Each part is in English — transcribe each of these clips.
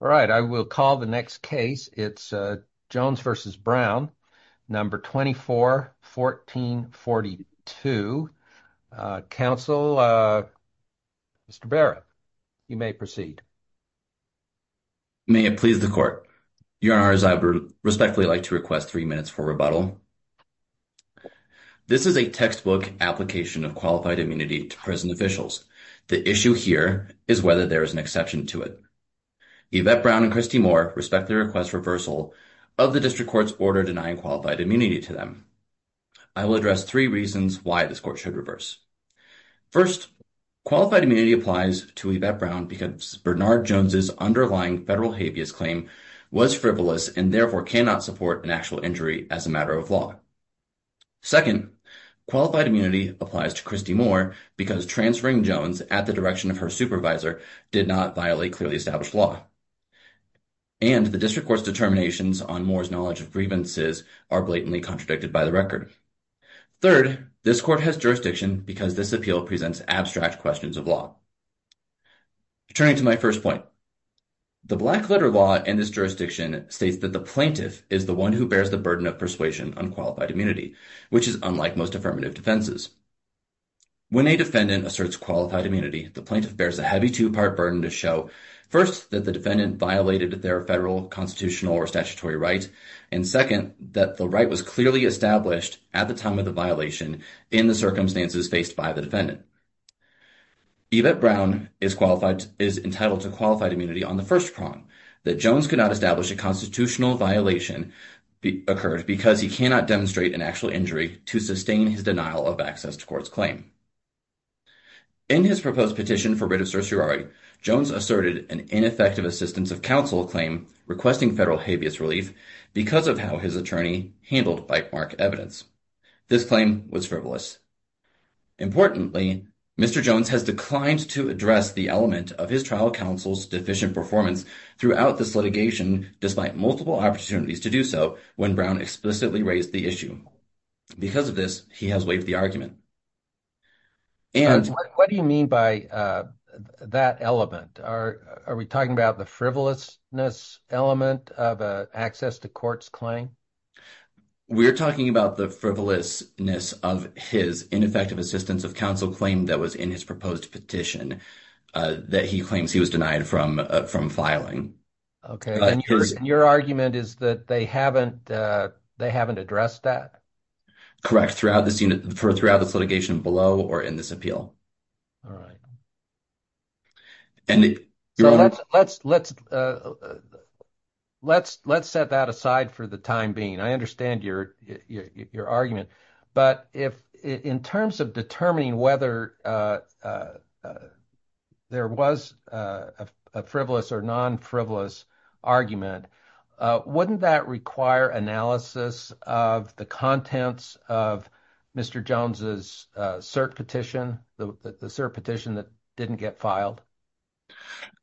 All right, I will call the next case. It's Jones v. Brown, No. 24-1442. Council, Mr. Barrett, you may proceed. May it please the Court. Your Honors, I would respectfully like to request three minutes for rebuttal. This is a textbook application of qualified immunity to prison officials. The issue here is whether there is an exception to it. Yvette Brown and Christy Moore respectfully request reversal of the District Court's order denying qualified immunity to them. I will address three reasons why this Court should reverse. First, qualified immunity applies to Yvette Brown because Bernard Jones' underlying federal habeas claim was frivolous and therefore cannot support an actual injury as a matter of law. Second, qualified immunity applies to Christy Moore because transferring Jones at the direction of her supervisor did not violate clearly established law. And the District Court's determinations on Moore's knowledge of grievances are blatantly contradicted by the record. Third, this Court has jurisdiction because this appeal presents abstract questions of law. Turning to my first point, the black letter law in this jurisdiction states that the plaintiff is the one who bears the burden of persuasion on qualified immunity, which is unlike most affirmative defenses. When a defendant asserts qualified immunity, the plaintiff bears a heavy two-part burden to show, first, that the defendant violated their federal constitutional or statutory right, and second, that the right was clearly established at the time of the violation in the circumstances faced by the defendant. Yvette Brown is entitled to qualified immunity on the first prong, that Jones could not establish a constitutional violation occurred because he cannot demonstrate an actual injury to sustain his denial of access to court's claim. In his proposed petition for writ of certiorari, Jones asserted an ineffective assistance of counsel claim requesting federal habeas relief because of how his attorney handled by-mark evidence. This claim was frivolous. Importantly, Mr. Jones has declined to address the element of his trial counsel's deficient performance throughout this litigation despite multiple opportunities to do so when Brown explicitly raised the issue. Because of this, he has waived the argument. What do you mean by that element? Are we talking about the frivolousness element of access to court's claim? We're talking about the frivolousness of his ineffective assistance of counsel claim that was in his proposed petition that he claims he was denied from filing. Okay, and your argument is that they haven't addressed that? Correct, throughout this litigation below or in this appeal. All right. Let's set that aside for the time being. I understand your argument. But in terms of determining whether there was a frivolous or non-frivolous argument, wouldn't that require analysis of the contents of Mr. Jones's cert petition, the cert petition that didn't get filed?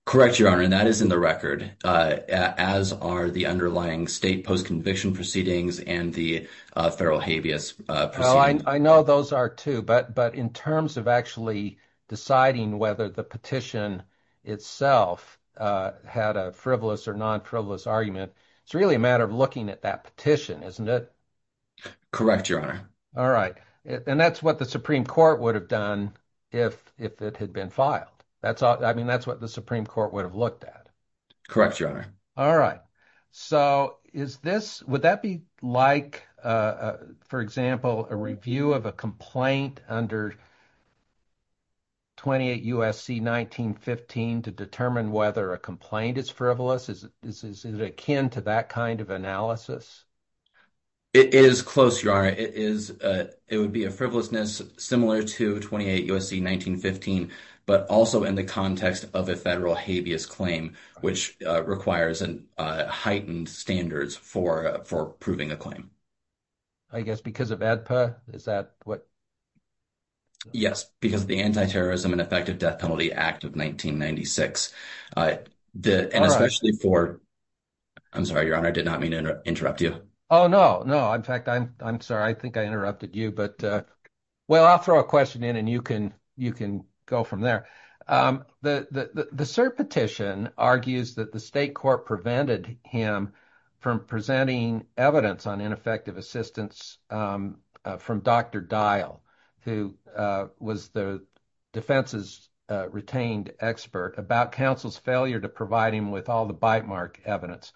Correct, Your Honor. And that is in the record, as are the underlying state post-conviction proceedings and the federal habeas proceeding. I know those are, too. But in terms of actually deciding whether the petition itself had a frivolous or non-frivolous argument, it's really a matter of looking at that petition, isn't it? Correct, Your Honor. All right. And that's what the Supreme Court would have done if it had been filed. I mean, that's what the Supreme Court would have looked at. Correct, Your Honor. All right. So would that be like, for example, a review of a complaint under 28 U.S.C. 1915 to determine whether a complaint is frivolous? Is it akin to that kind of analysis? It is close, Your Honor. It would be a frivolousness similar to 28 U.S.C. 1915, but also in the context of a federal habeas claim, which requires heightened standards for proving a claim. I guess because of ADPA? Is that what? Yes, because of the Anti-Terrorism and Effective Death Penalty Act of 1996. And especially for – I'm sorry, Your Honor. I did not mean to interrupt you. Oh, no. In fact, I'm sorry. I think I interrupted you, but – well, I'll throw a question in and you can go from there. The cert petition argues that the state court prevented him from presenting evidence on ineffective assistance from Dr. Dial, who was the defense's retained expert about counsel's failure to provide him with all the bite mark evidence.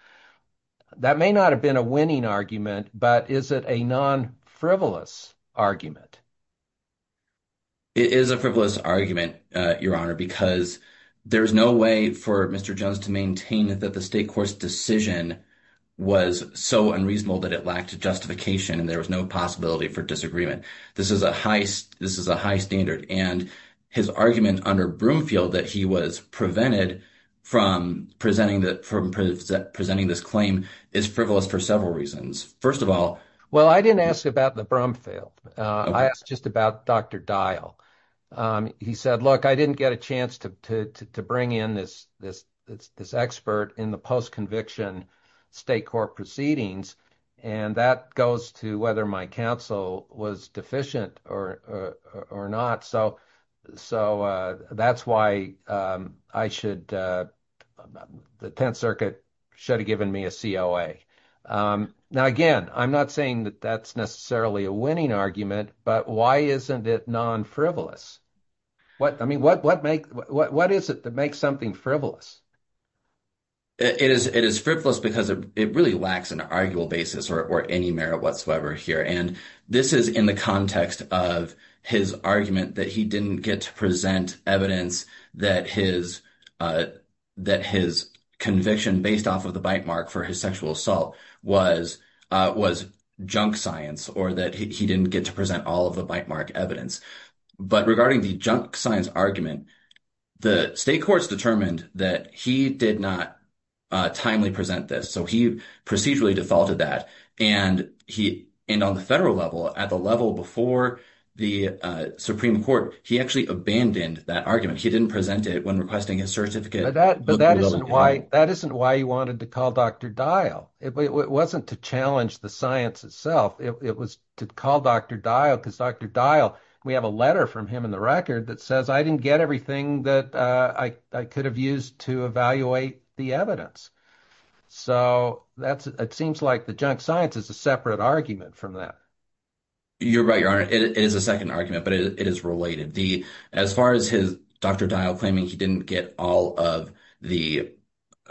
That may not have been a winning argument, but is it a non-frivolous argument? It is a frivolous argument, Your Honor, because there is no way for Mr. Jones to maintain that the state court's decision was so unreasonable that it lacked justification and there was no possibility for disagreement. This is a high standard, and his argument under Broomfield that he was prevented from presenting this claim is frivolous for several reasons. First of all – Well, I didn't ask about the Broomfield. I asked just about Dr. Dial. He said, look, I didn't get a chance to bring in this expert in the post-conviction state court proceedings, and that goes to whether my counsel was deficient or not. So that's why the Tenth Circuit should have given me a COA. Now, again, I'm not saying that that's necessarily a winning argument, but why isn't it non-frivolous? I mean, what is it that makes something frivolous? It is frivolous because it really lacks an arguable basis or any merit whatsoever here, and this is in the context of his argument that he didn't get to present evidence that his conviction based off of the bite mark for his sexual assault was junk science or that he didn't get to present all of the bite mark evidence. But regarding the junk science argument, the state courts determined that he did not timely present this, so he procedurally defaulted that, and on the federal level, at the level before the Supreme Court, he actually abandoned that argument. He didn't present it when requesting his certificate. But that isn't why he wanted to call Dr. Dial. It wasn't to challenge the science itself. It was to call Dr. Dial because Dr. Dial, we have a letter from him in the record that says, I didn't get everything that I could have used to evaluate the evidence. So it seems like the junk science is a separate argument from that. You're right, Your Honor. It is a second argument, but it is related. As far as Dr. Dial claiming he didn't get all of the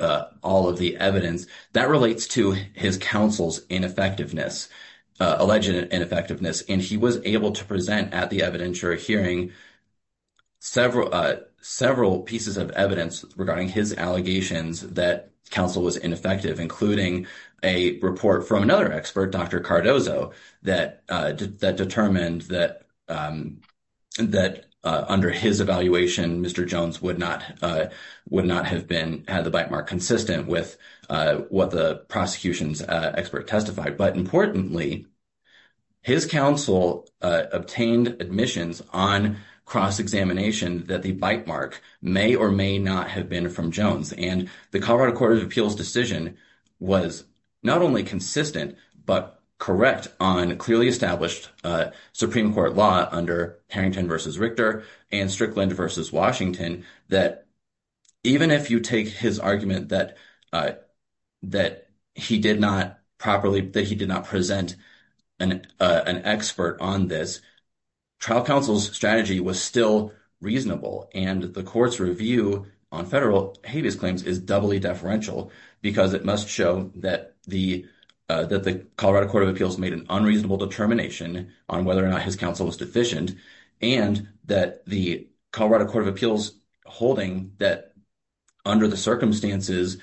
evidence, that relates to his counsel's ineffectiveness. Alleged ineffectiveness. And he was able to present at the evidentiary hearing several pieces of evidence regarding his allegations that counsel was ineffective, including a report from another expert, Dr. Cardozo, that determined that under his evaluation, Mr. Jones would not have had the bite mark consistent with what the prosecution's expert testified. But importantly, his counsel obtained admissions on cross-examination that the bite mark may or may not have been from Jones. And the Colorado Court of Appeals decision was not only consistent, but correct on clearly established Supreme Court law under Harrington v. Richter and Strickland v. Washington, that even if you take his argument that he did not properly, that he did not present an expert on this, trial counsel's strategy was still reasonable and the court's review on federal habeas claims is doubly deferential because it must show that the Colorado Court of Appeals made an unreasonable determination on whether or not his counsel was deficient and that the Colorado Court of Appeals holding that under the circumstances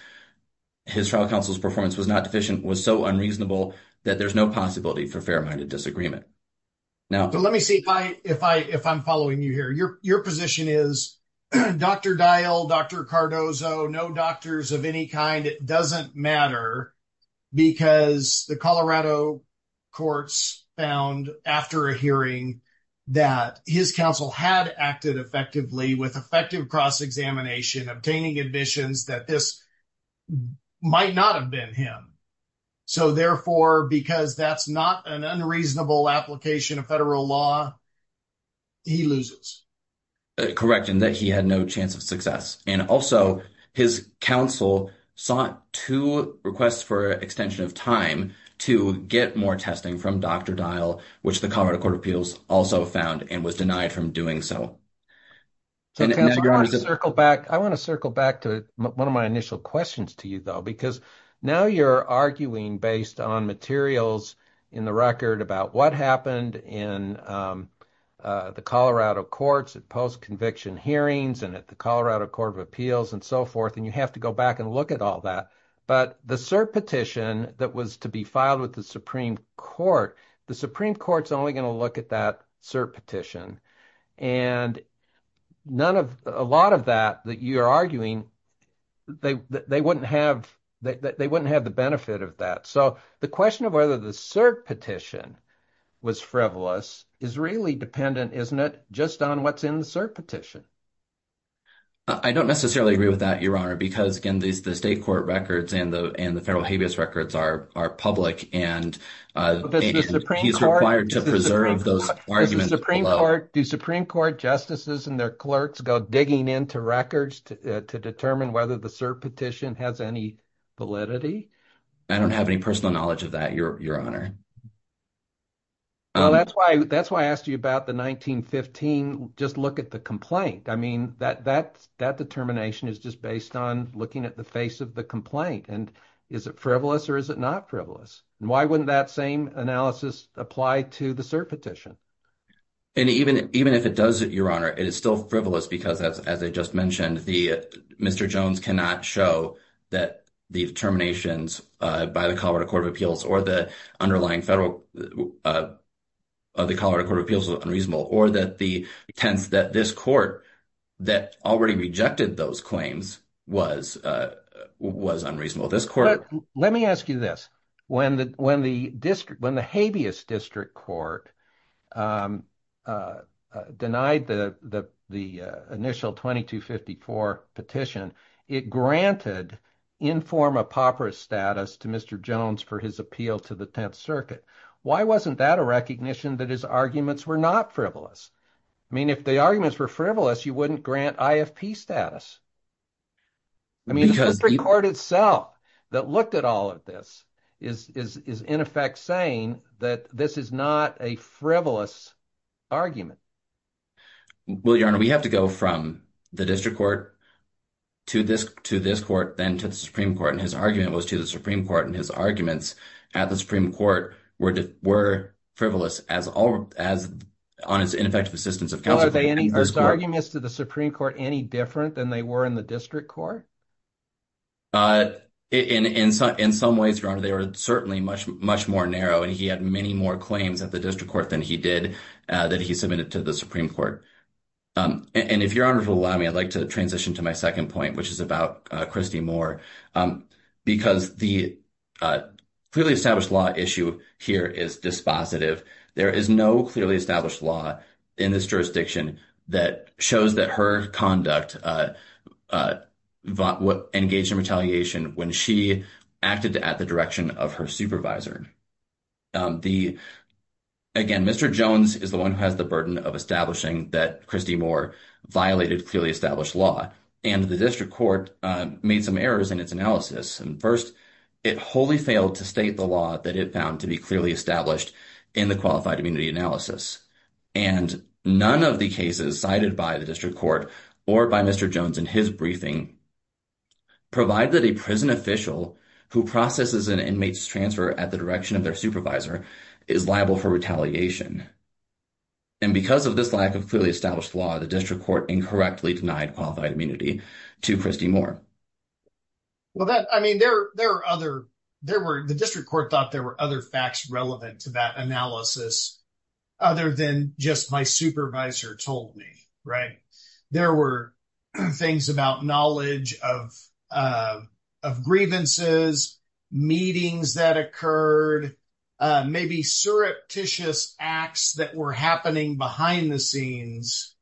his trial counsel's performance was not deficient was so unreasonable that there's no possibility for fair-minded disagreement. Now, let me see if I'm following you here. Your position is Dr. Dial, Dr. Cardozo, no doctors of any kind, it doesn't matter because the Colorado courts found after a hearing that his counsel had acted effectively with effective cross-examination, obtaining admissions that this might not have been him. So therefore, because that's not an unreasonable application of federal law, he loses. Correct, and that he had no chance of success. And also, his counsel sought two requests for extension of time to get more testing from Dr. Dial, which the Colorado Court of Appeals also found and was denied from doing so. I want to circle back to one of my initial questions to you, though, because now you're arguing based on materials in the record about what happened in the Colorado courts, at post-conviction hearings and at the Colorado Court of Appeals and so forth, and you have to go back and look at all that. But the cert petition that was to be filed with the Supreme Court, the Supreme Court's only going to look at that cert petition. And a lot of that that you're arguing, they wouldn't have the benefit of that. So the question of whether the cert petition was frivolous is really dependent, isn't it, just on what's in the cert petition? I don't necessarily agree with that, Your Honor, because, again, the state court records and the federal habeas records are public, and he's required to preserve those arguments below. Does the Supreme Court, do Supreme Court justices and their clerks go digging into records to determine whether the cert petition has any validity? I don't have any personal knowledge of that, Your Honor. That's why I asked you about the 1915, just look at the complaint. I mean, that determination is just based on looking at the face of the complaint, and is it frivolous or is it not frivolous? Why wouldn't that same analysis apply to the cert petition? And even if it does, Your Honor, it is still frivolous because, as I just mentioned, Mr. Jones cannot show that the determinations by the Colorado Court of Appeals or the underlying federal of the Colorado Court of Appeals were unreasonable or that the intent that this court that already rejected those claims was unreasonable. Let me ask you this. When the habeas district court denied the initial 2254 petition, it granted informal apoperous status to Mr. Jones for his appeal to the Tenth Circuit. Why wasn't that a recognition that his arguments were not frivolous? I mean, if the arguments were frivolous, you wouldn't grant IFP status. I mean, the district court itself that looked at all of this is, in effect, saying that this is not a frivolous argument. Well, Your Honor, we have to go from the district court to this court, then to the Supreme Court, and his argument was to the Supreme Court, and his arguments at the Supreme Court were frivolous on his ineffective assistance of counsel. Are his arguments to the Supreme Court any different than they were in the district court? In some ways, Your Honor, they were certainly much more narrow, and he had many more claims at the district court than he did that he submitted to the Supreme Court. And if Your Honor will allow me, I'd like to transition to my second point, which is about Christy Moore, because the clearly established law issue here is dispositive. There is no clearly established law in this jurisdiction that shows that her conduct engaged in retaliation when she acted at the direction of her supervisor. Again, Mr. Jones is the one who has the burden of establishing that Christy Moore violated clearly established law, and the district court made some errors in its analysis. And first, it wholly failed to state the law that it found to be clearly established in the qualified immunity analysis. And none of the cases cited by the district court or by Mr. Jones in his briefing provided a prison official who processes an inmate's transfer at the direction of their supervisor is liable for retaliation. And because of this lack of clearly established law, the district court incorrectly denied qualified immunity to Christy Moore. Well, I mean, the district court thought there were other facts relevant to that analysis other than just my supervisor told me, right? There were things about knowledge of grievances, meetings that occurred, maybe surreptitious acts that were happening behind the scenes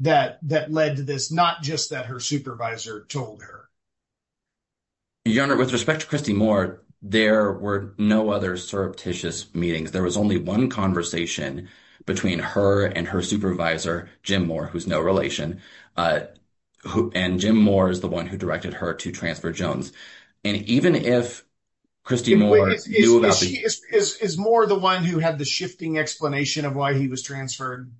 that led to this, not just that her supervisor told her. Your Honor, with respect to Christy Moore, there were no other surreptitious meetings. There was only one conversation between her and her supervisor, Jim Moore, who's no relation. And Jim Moore is the one who directed her to transfer Jones. And even if Christy Moore is more the one who had the shifting explanation of why he was transferred.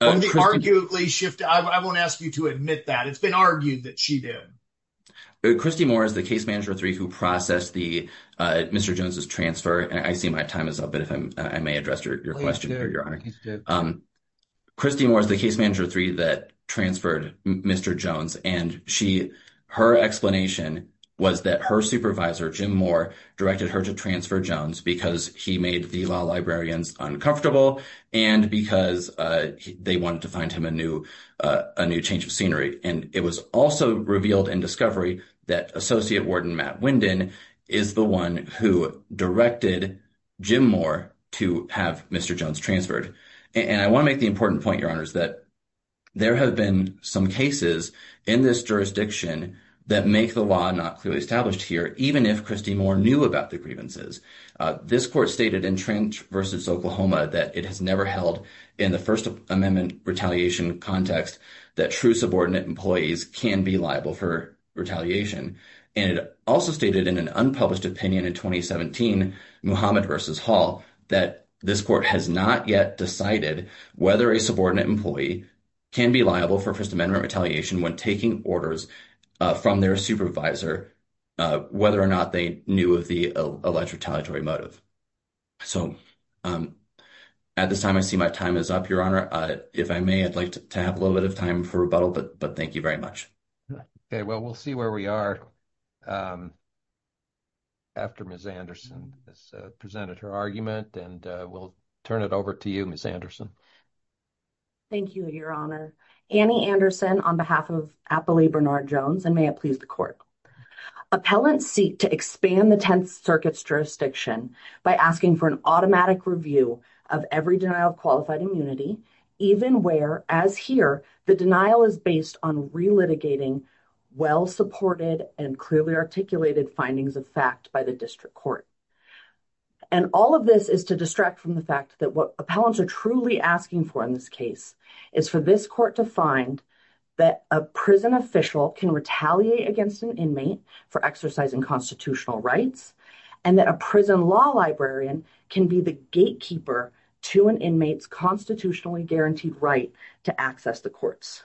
Arguably shift. I won't ask you to admit that it's been argued that she did. Christy Moore is the case manager three who processed the Mr. Jones's transfer. And I see my time is up. But if I may address your question, your honor. Christy Moore is the case manager three that transferred Mr. Jones. And she her explanation was that her supervisor, Jim Moore, directed her to transfer Jones because he made the law librarians uncomfortable. And because they wanted to find him a new a new change of scenery. And it was also revealed in discovery that Associate Warden Matt Wyndon is the one who directed Jim Moore to have Mr. Jones transferred. And I want to make the important point, your honors, that there have been some cases in this jurisdiction that make the law not clearly established here. Even if Christy Moore knew about the grievances, this court stated in Trench versus Oklahoma that it has never held in the First Amendment retaliation context that true subordinate employees can be liable for retaliation. And it also stated in an unpublished opinion in 2017, Muhammad versus Hall, that this court has not yet decided whether a subordinate employee can be liable for First Amendment retaliation when taking orders from their supervisor, whether or not they knew of the alleged retaliatory motive. So, at this time, I see my time is up, your honor. If I may, I'd like to have a little bit of time for rebuttal, but thank you very much. Okay, well, we'll see where we are after Ms. Anderson has presented her argument and we'll turn it over to you, Ms. Anderson. Thank you, your honor. Annie Anderson on behalf of Appali Bernard Jones and may it please the court. Appellants seek to expand the Tenth Circuit's jurisdiction by asking for an automatic review of every denial of qualified immunity, even where, as here, the denial is based on re-litigating well-supported and clearly articulated findings of fact by the district court. And all of this is to distract from the fact that what appellants are truly asking for in this case is for this court to find that a prison official can retaliate against an inmate for exercising constitutional rights and that a prison law librarian can be the gatekeeper to an inmate's constitutionally guaranteed right to access the courts.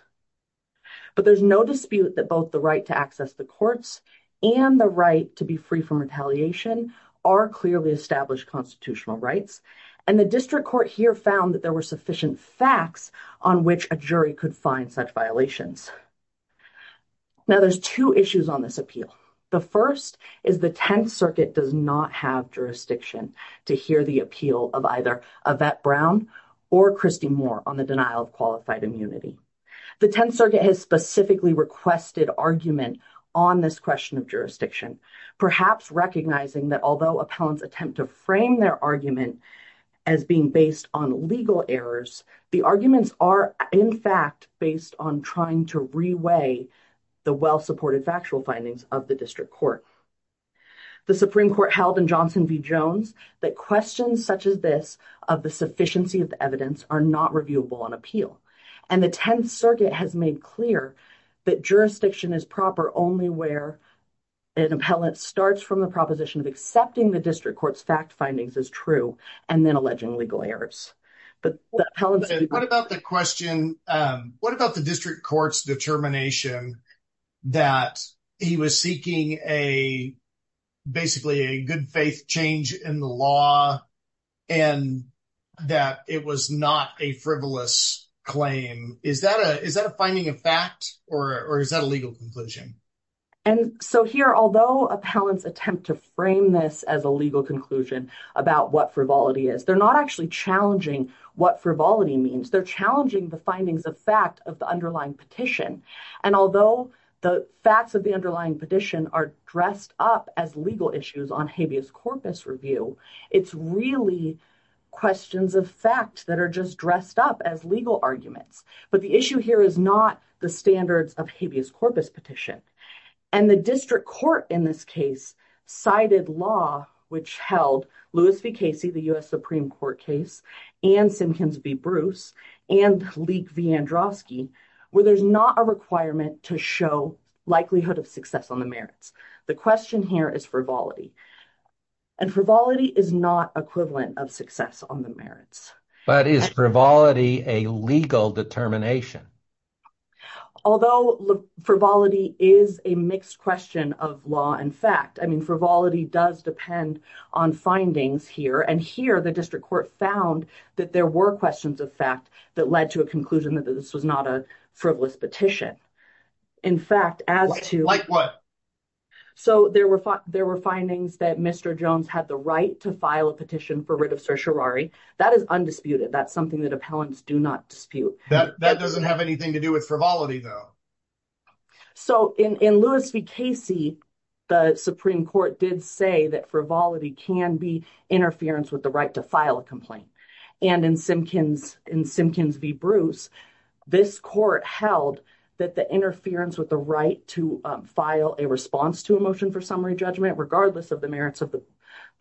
But there's no dispute that both the right to access the courts and the right to be free from retaliation are clearly established constitutional rights and the district court here found that there were sufficient facts on which a jury could find such violations. Now there's two issues on this appeal. The first is the Tenth Circuit does not have jurisdiction to hear the appeal of either Yvette Brown or Christy Moore on the denial of qualified immunity. The Tenth Circuit has specifically requested argument on this question of jurisdiction, perhaps recognizing that although appellants attempt to frame their argument as being based on legal errors, the arguments are in fact based on trying to re-weigh the well-supported factual findings of the district court. The Supreme Court held in Johnson v. Jones that questions such as this of the sufficiency of the evidence are not reviewable on appeal. And the Tenth Circuit has made clear that jurisdiction is proper only where an appellant starts from the proposition of accepting the district court's fact findings as true and then alleging legal errors. What about the question, what about the district court's determination that he was seeking a basically a good faith change in the law and that it was not a frivolous claim? Is that a finding of fact or is that a legal conclusion? And so here, although appellants attempt to frame this as a legal conclusion about what frivolity is, they're not actually challenging what frivolity means. They're challenging the findings of fact of the underlying petition. And although the facts of the underlying petition are dressed up as legal issues on habeas corpus review, it's really questions of fact that are just dressed up as legal arguments. But the issue here is not the standards of habeas corpus petition. And the district court in this case cited law which held Lewis v. Casey, the U.S. Supreme Court case, and Simkins v. Bruce, and Leek v. Androsky, where there's not a requirement to show likelihood of success on the merits. The question here is frivolity. And frivolity is not equivalent of success on the merits. But is frivolity a legal determination? Although frivolity is a mixed question of law and fact. I mean, frivolity does depend on findings here. And here the district court found that there were questions of fact that led to a conclusion that this was not a frivolous petition. Like what? So there were findings that Mr. Jones had the right to file a petition for writ of certiorari. That is undisputed. That's something that appellants do not dispute. That doesn't have anything to do with frivolity though. So in Lewis v. Casey, the Supreme Court did say that frivolity can be interference with the right to file a complaint. And in Simkins v. Bruce, this court held that the interference with the right to file a response to a motion for summary judgment, regardless of the merits of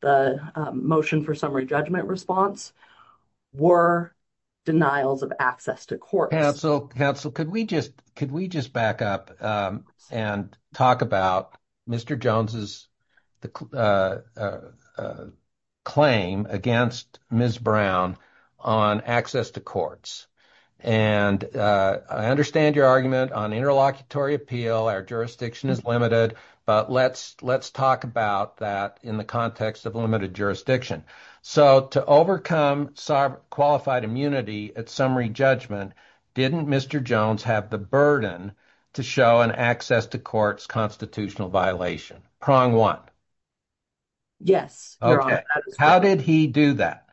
the motion for summary judgment response, were denials of access to court. Counsel, counsel, could we just could we just back up and talk about Mr. Jones's claim against Ms. Brown on access to courts? And I understand your argument on interlocutory appeal. Our jurisdiction is limited. But let's let's talk about that in the context of limited jurisdiction. So to overcome qualified immunity at summary judgment, didn't Mr. Jones have the burden to show an access to courts constitutional violation? Prong one. How did he do that?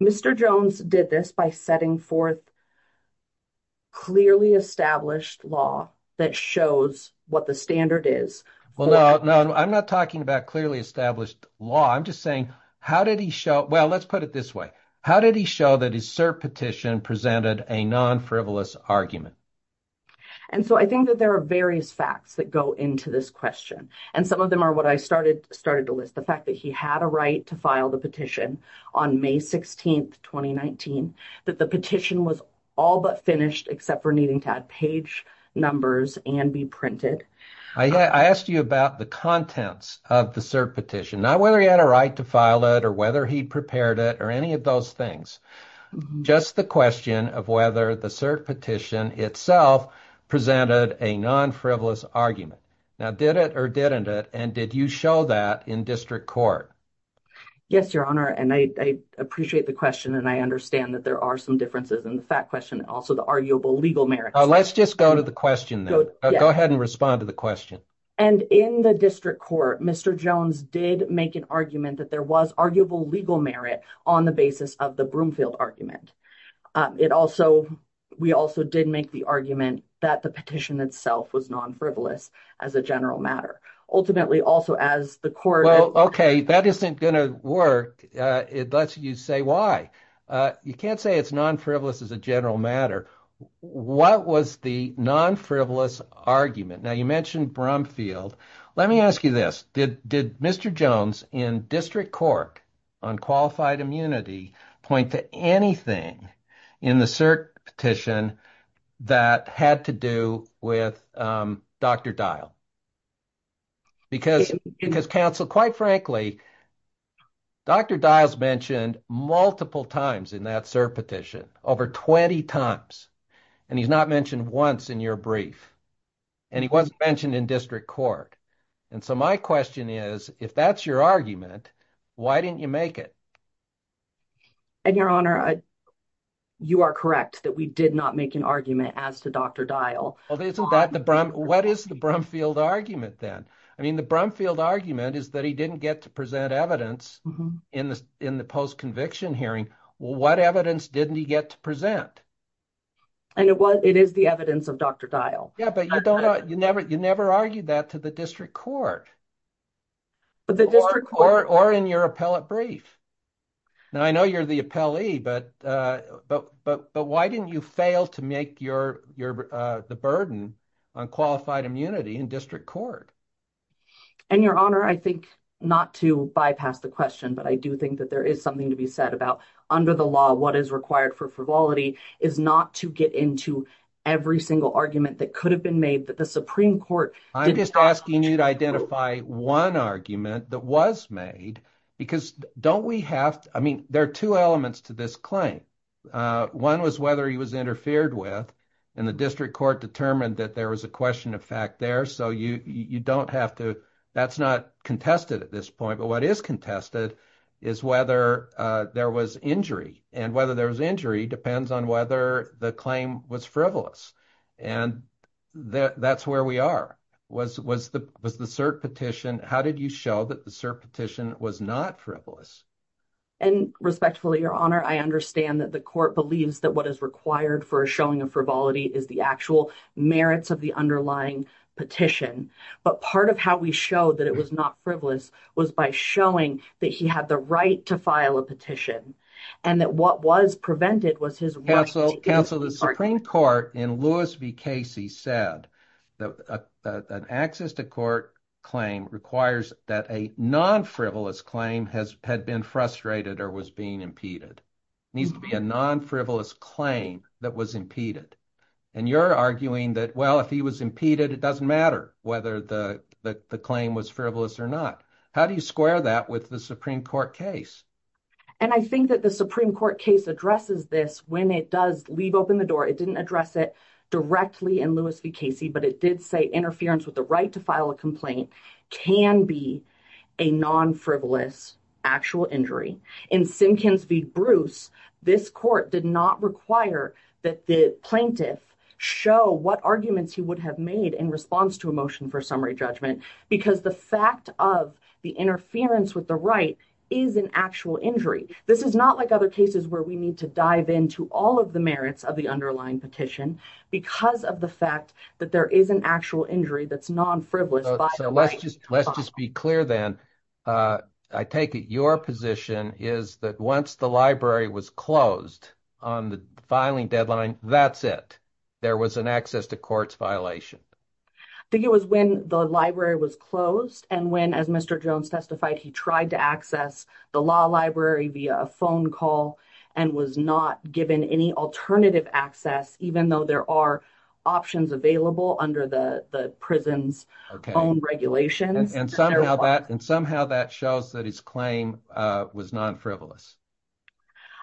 Mr. Jones did this by setting forth clearly established law that shows what the standard is. Well, no, no, I'm not talking about clearly established law. I'm just saying, how did he show? Well, let's put it this way. How did he show that his cert petition presented a non frivolous argument? And so I think that there are various facts that go into this question. And some of them are what I started started to list the fact that he had a right to file the petition on May 16th, 2019, that the petition was all but finished, except for needing to add page numbers and be printed. I asked you about the contents of the cert petition, not whether he had a right to file it or whether he prepared it or any of those things, just the question of whether the cert petition itself presented a non frivolous argument. Now, did it or didn't it? And did you show that in district court? Yes, your honor. And I appreciate the question. And I understand that there are some differences in the fact question. Also, the arguable legal merits. Let's just go to the question. Go ahead and respond to the question. And in the district court, Mr. Jones did make an argument that there was arguable legal merit on the basis of the Broomfield argument. It also we also did make the argument that the petition itself was non frivolous as a general matter. Ultimately, also, as the court. Well, OK, that isn't going to work. It lets you say why you can't say it's non frivolous as a general matter. What was the non frivolous argument? Now, you mentioned Broomfield. Let me ask you this. Did did Mr. Jones in district court on qualified immunity point to anything in the cert petition that had to do with Dr. Because because counsel, quite frankly, Dr. Diles mentioned multiple times in that cert petition over 20 times. And he's not mentioned once in your brief and he wasn't mentioned in district court. And so my question is, if that's your argument, why didn't you make it? And your honor, you are correct that we did not make an argument as to Dr. Dyle. Isn't that the Brum? What is the Brumfield argument then? I mean, the Brumfield argument is that he didn't get to present evidence in the in the post conviction hearing. What evidence didn't he get to present? I know what it is, the evidence of Dr. Dyle. Yeah, but you don't know. You never you never argued that to the district court. But the district court or in your appellate brief. Now, I know you're the appellee, but but but but why didn't you fail to make your your the burden on qualified immunity in district court? And your honor, I think not to bypass the question, but I do think that there is something to be said about under the law. What is required for frivolity is not to get into every single argument that could have been made that the Supreme Court. I'm just asking you to identify one argument that was made because don't we have I mean, there are two elements to this claim. One was whether he was interfered with and the district court determined that there was a question of fact there. So you don't have to. That's not contested at this point. But what is contested is whether there was injury and whether there was injury depends on whether the claim was frivolous. And that's where we are was was the was the cert petition. How did you show that the cert petition was not frivolous? And respectfully, your honor, I understand that the court believes that what is required for a showing of frivolity is the actual merits of the underlying petition. But part of how we show that it was not frivolous was by showing that he had the right to file a petition and that what was prevented was his. So the Supreme Court in Louis v. Casey said that an access to court claim requires that a non frivolous claim has had been frustrated or was being impeded needs to be a non frivolous claim that was impeded. And you're arguing that, well, if he was impeded, it doesn't matter whether the claim was frivolous or not. How do you square that with the Supreme Court case? And I think that the Supreme Court case addresses this when it does leave open the door. It didn't address it directly in Louis v. Casey, but it did say interference with the right to file a complaint can be a non frivolous actual injury. In Simkins v. Bruce, this court did not require that the plaintiff show what arguments he would have made in response to a motion for summary judgment because the fact of the interference with the right is an actual injury. This is not like other cases where we need to dive into all of the merits of the underlying petition because of the fact that there is an actual injury that's non frivolous. So let's just be clear then. I take it your position is that once the library was closed on the filing deadline, that's it. There was an access to courts violation. I think it was when the library was closed and when, as Mr. Jones testified, he tried to access the law library via a phone call and was not given any alternative access, even though there are options available under the prison's own regulations. And somehow that shows that his claim was non frivolous.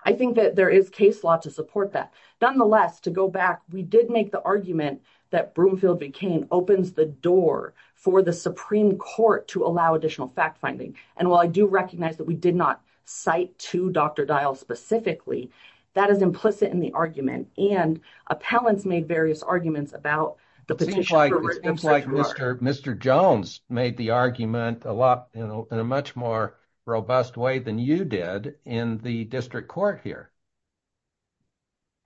I think that there is case law to support that. Nonetheless, to go back, we did make the argument that Broomfield v. Cain opens the door for the Supreme Court to allow additional fact finding. And while I do recognize that we did not cite to Dr. Dial specifically, that is implicit in the argument and appellants made various arguments about the petition. It seems like Mr. Jones made the argument a lot in a much more robust way than you did in the district court here.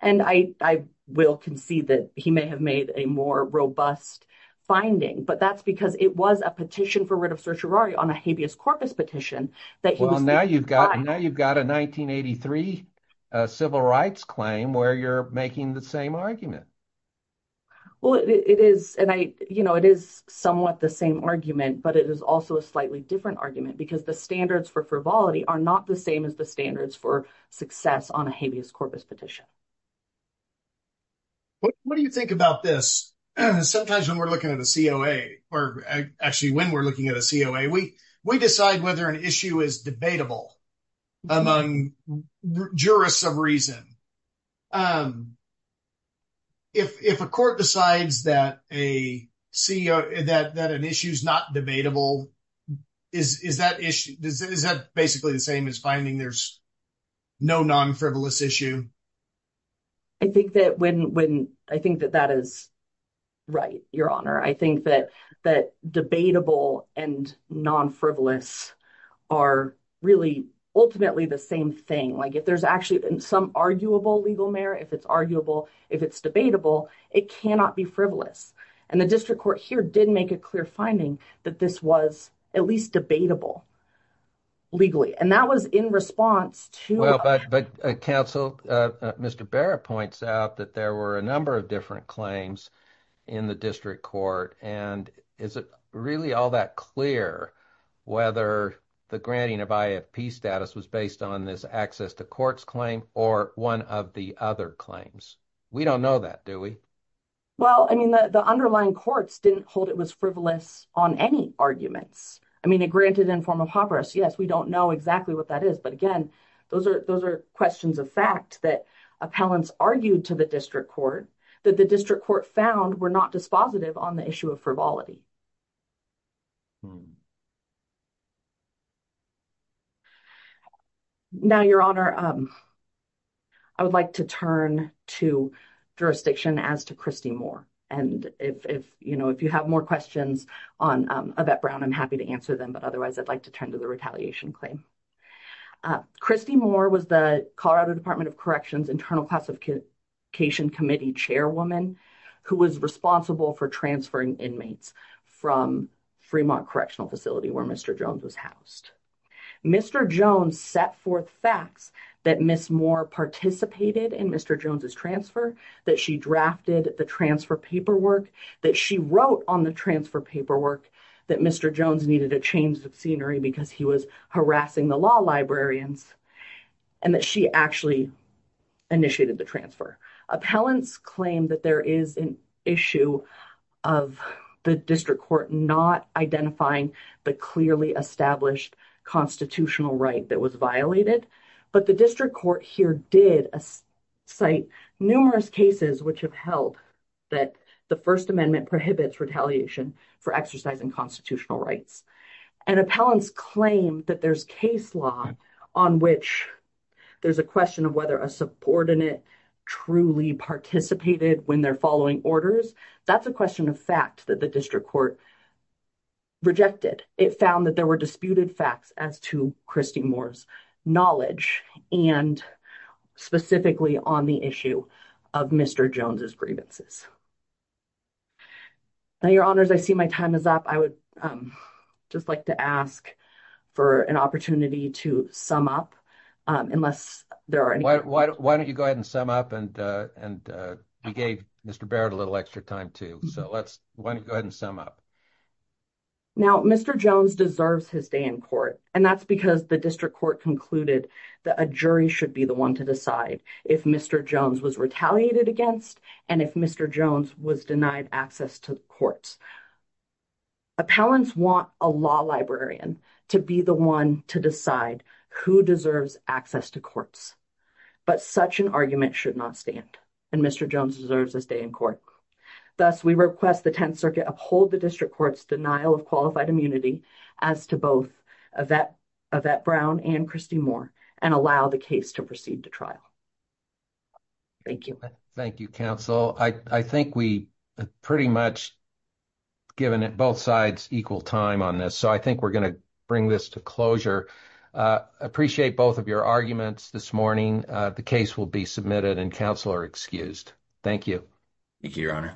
And I will concede that he may have made a more robust finding, but that's because it was a petition for writ of certiorari on a habeas corpus petition. Well, now you've got a 1983 civil rights claim where you're making the same argument. Well, it is, and I, you know, it is somewhat the same argument, but it is also a slightly different argument because the standards for frivolity are not the same as the standards for success on a habeas corpus petition. What do you think about this? Sometimes when we're looking at a COA, or actually when we're looking at a COA, we decide whether an issue is debatable among jurists of reason. If a court decides that an issue is not debatable, is that basically the same as finding there's no non-frivolous issue? I think that that is right, Your Honor. I think that debatable and non-frivolous are really ultimately the same thing. Like, if there's actually some arguable legal merit, if it's arguable, if it's debatable, it cannot be frivolous. And the district court here did make a clear finding that this was at least debatable legally, and that was in response to... ...or one of the other claims. We don't know that, do we? Well, I mean, the underlying courts didn't hold it was frivolous on any arguments. I mean, granted in form of habeas corpus, yes, we don't know exactly what that is. But again, those are questions of fact that appellants argued to the district court that the district court found were not dispositive on the issue of frivolity. Now, Your Honor, I would like to turn to jurisdiction as to Christy Moore. And if you have more questions on Yvette Brown, I'm happy to answer them, but otherwise I'd like to turn to the retaliation claim. Christy Moore was the Colorado Department of Corrections Internal Classification Committee chairwoman who was responsible for transferring inmates. From Fremont Correctional Facility where Mr. Jones was housed. Mr. Jones set forth facts that Ms. Moore participated in Mr. Jones' transfer, that she drafted the transfer paperwork, that she wrote on the transfer paperwork, that Mr. Jones needed a change of scenery because he was harassing the law librarians, and that she actually initiated the transfer. Appellants claim that there is an issue of the district court not identifying the clearly established constitutional right that was violated. But the district court here did cite numerous cases which have held that the First Amendment prohibits retaliation for exercising constitutional rights. And appellants claim that there's case law on which there's a question of whether a subordinate truly participated when they're following orders. That's a question of fact that the district court rejected. It found that there were disputed facts as to Christy Moore's knowledge and specifically on the issue of Mr. Jones' grievances. Now, Your Honors, I see my time is up. I would just like to ask for an opportunity to sum up, unless there are any questions. Why don't you go ahead and sum up? And we gave Mr. Barrett a little extra time too. So let's go ahead and sum up. Now, Mr. Jones deserves his day in court, and that's because the district court concluded that a jury should be the one to decide if Mr. Jones was retaliated against and if Mr. Jones was denied access to courts. Appellants want a law librarian to be the one to decide who deserves access to courts. But such an argument should not stand, and Mr. Jones deserves his day in court. Thus, we request the Tenth Circuit uphold the district court's denial of qualified immunity as to both Yvette Brown and Christy Moore and allow the case to proceed to trial. Thank you. Thank you, counsel. I think we pretty much given it both sides equal time on this. So I think we're going to bring this to closure. Appreciate both of your arguments this morning. The case will be submitted and counsel are excused. Thank you. Thank you, Your Honor.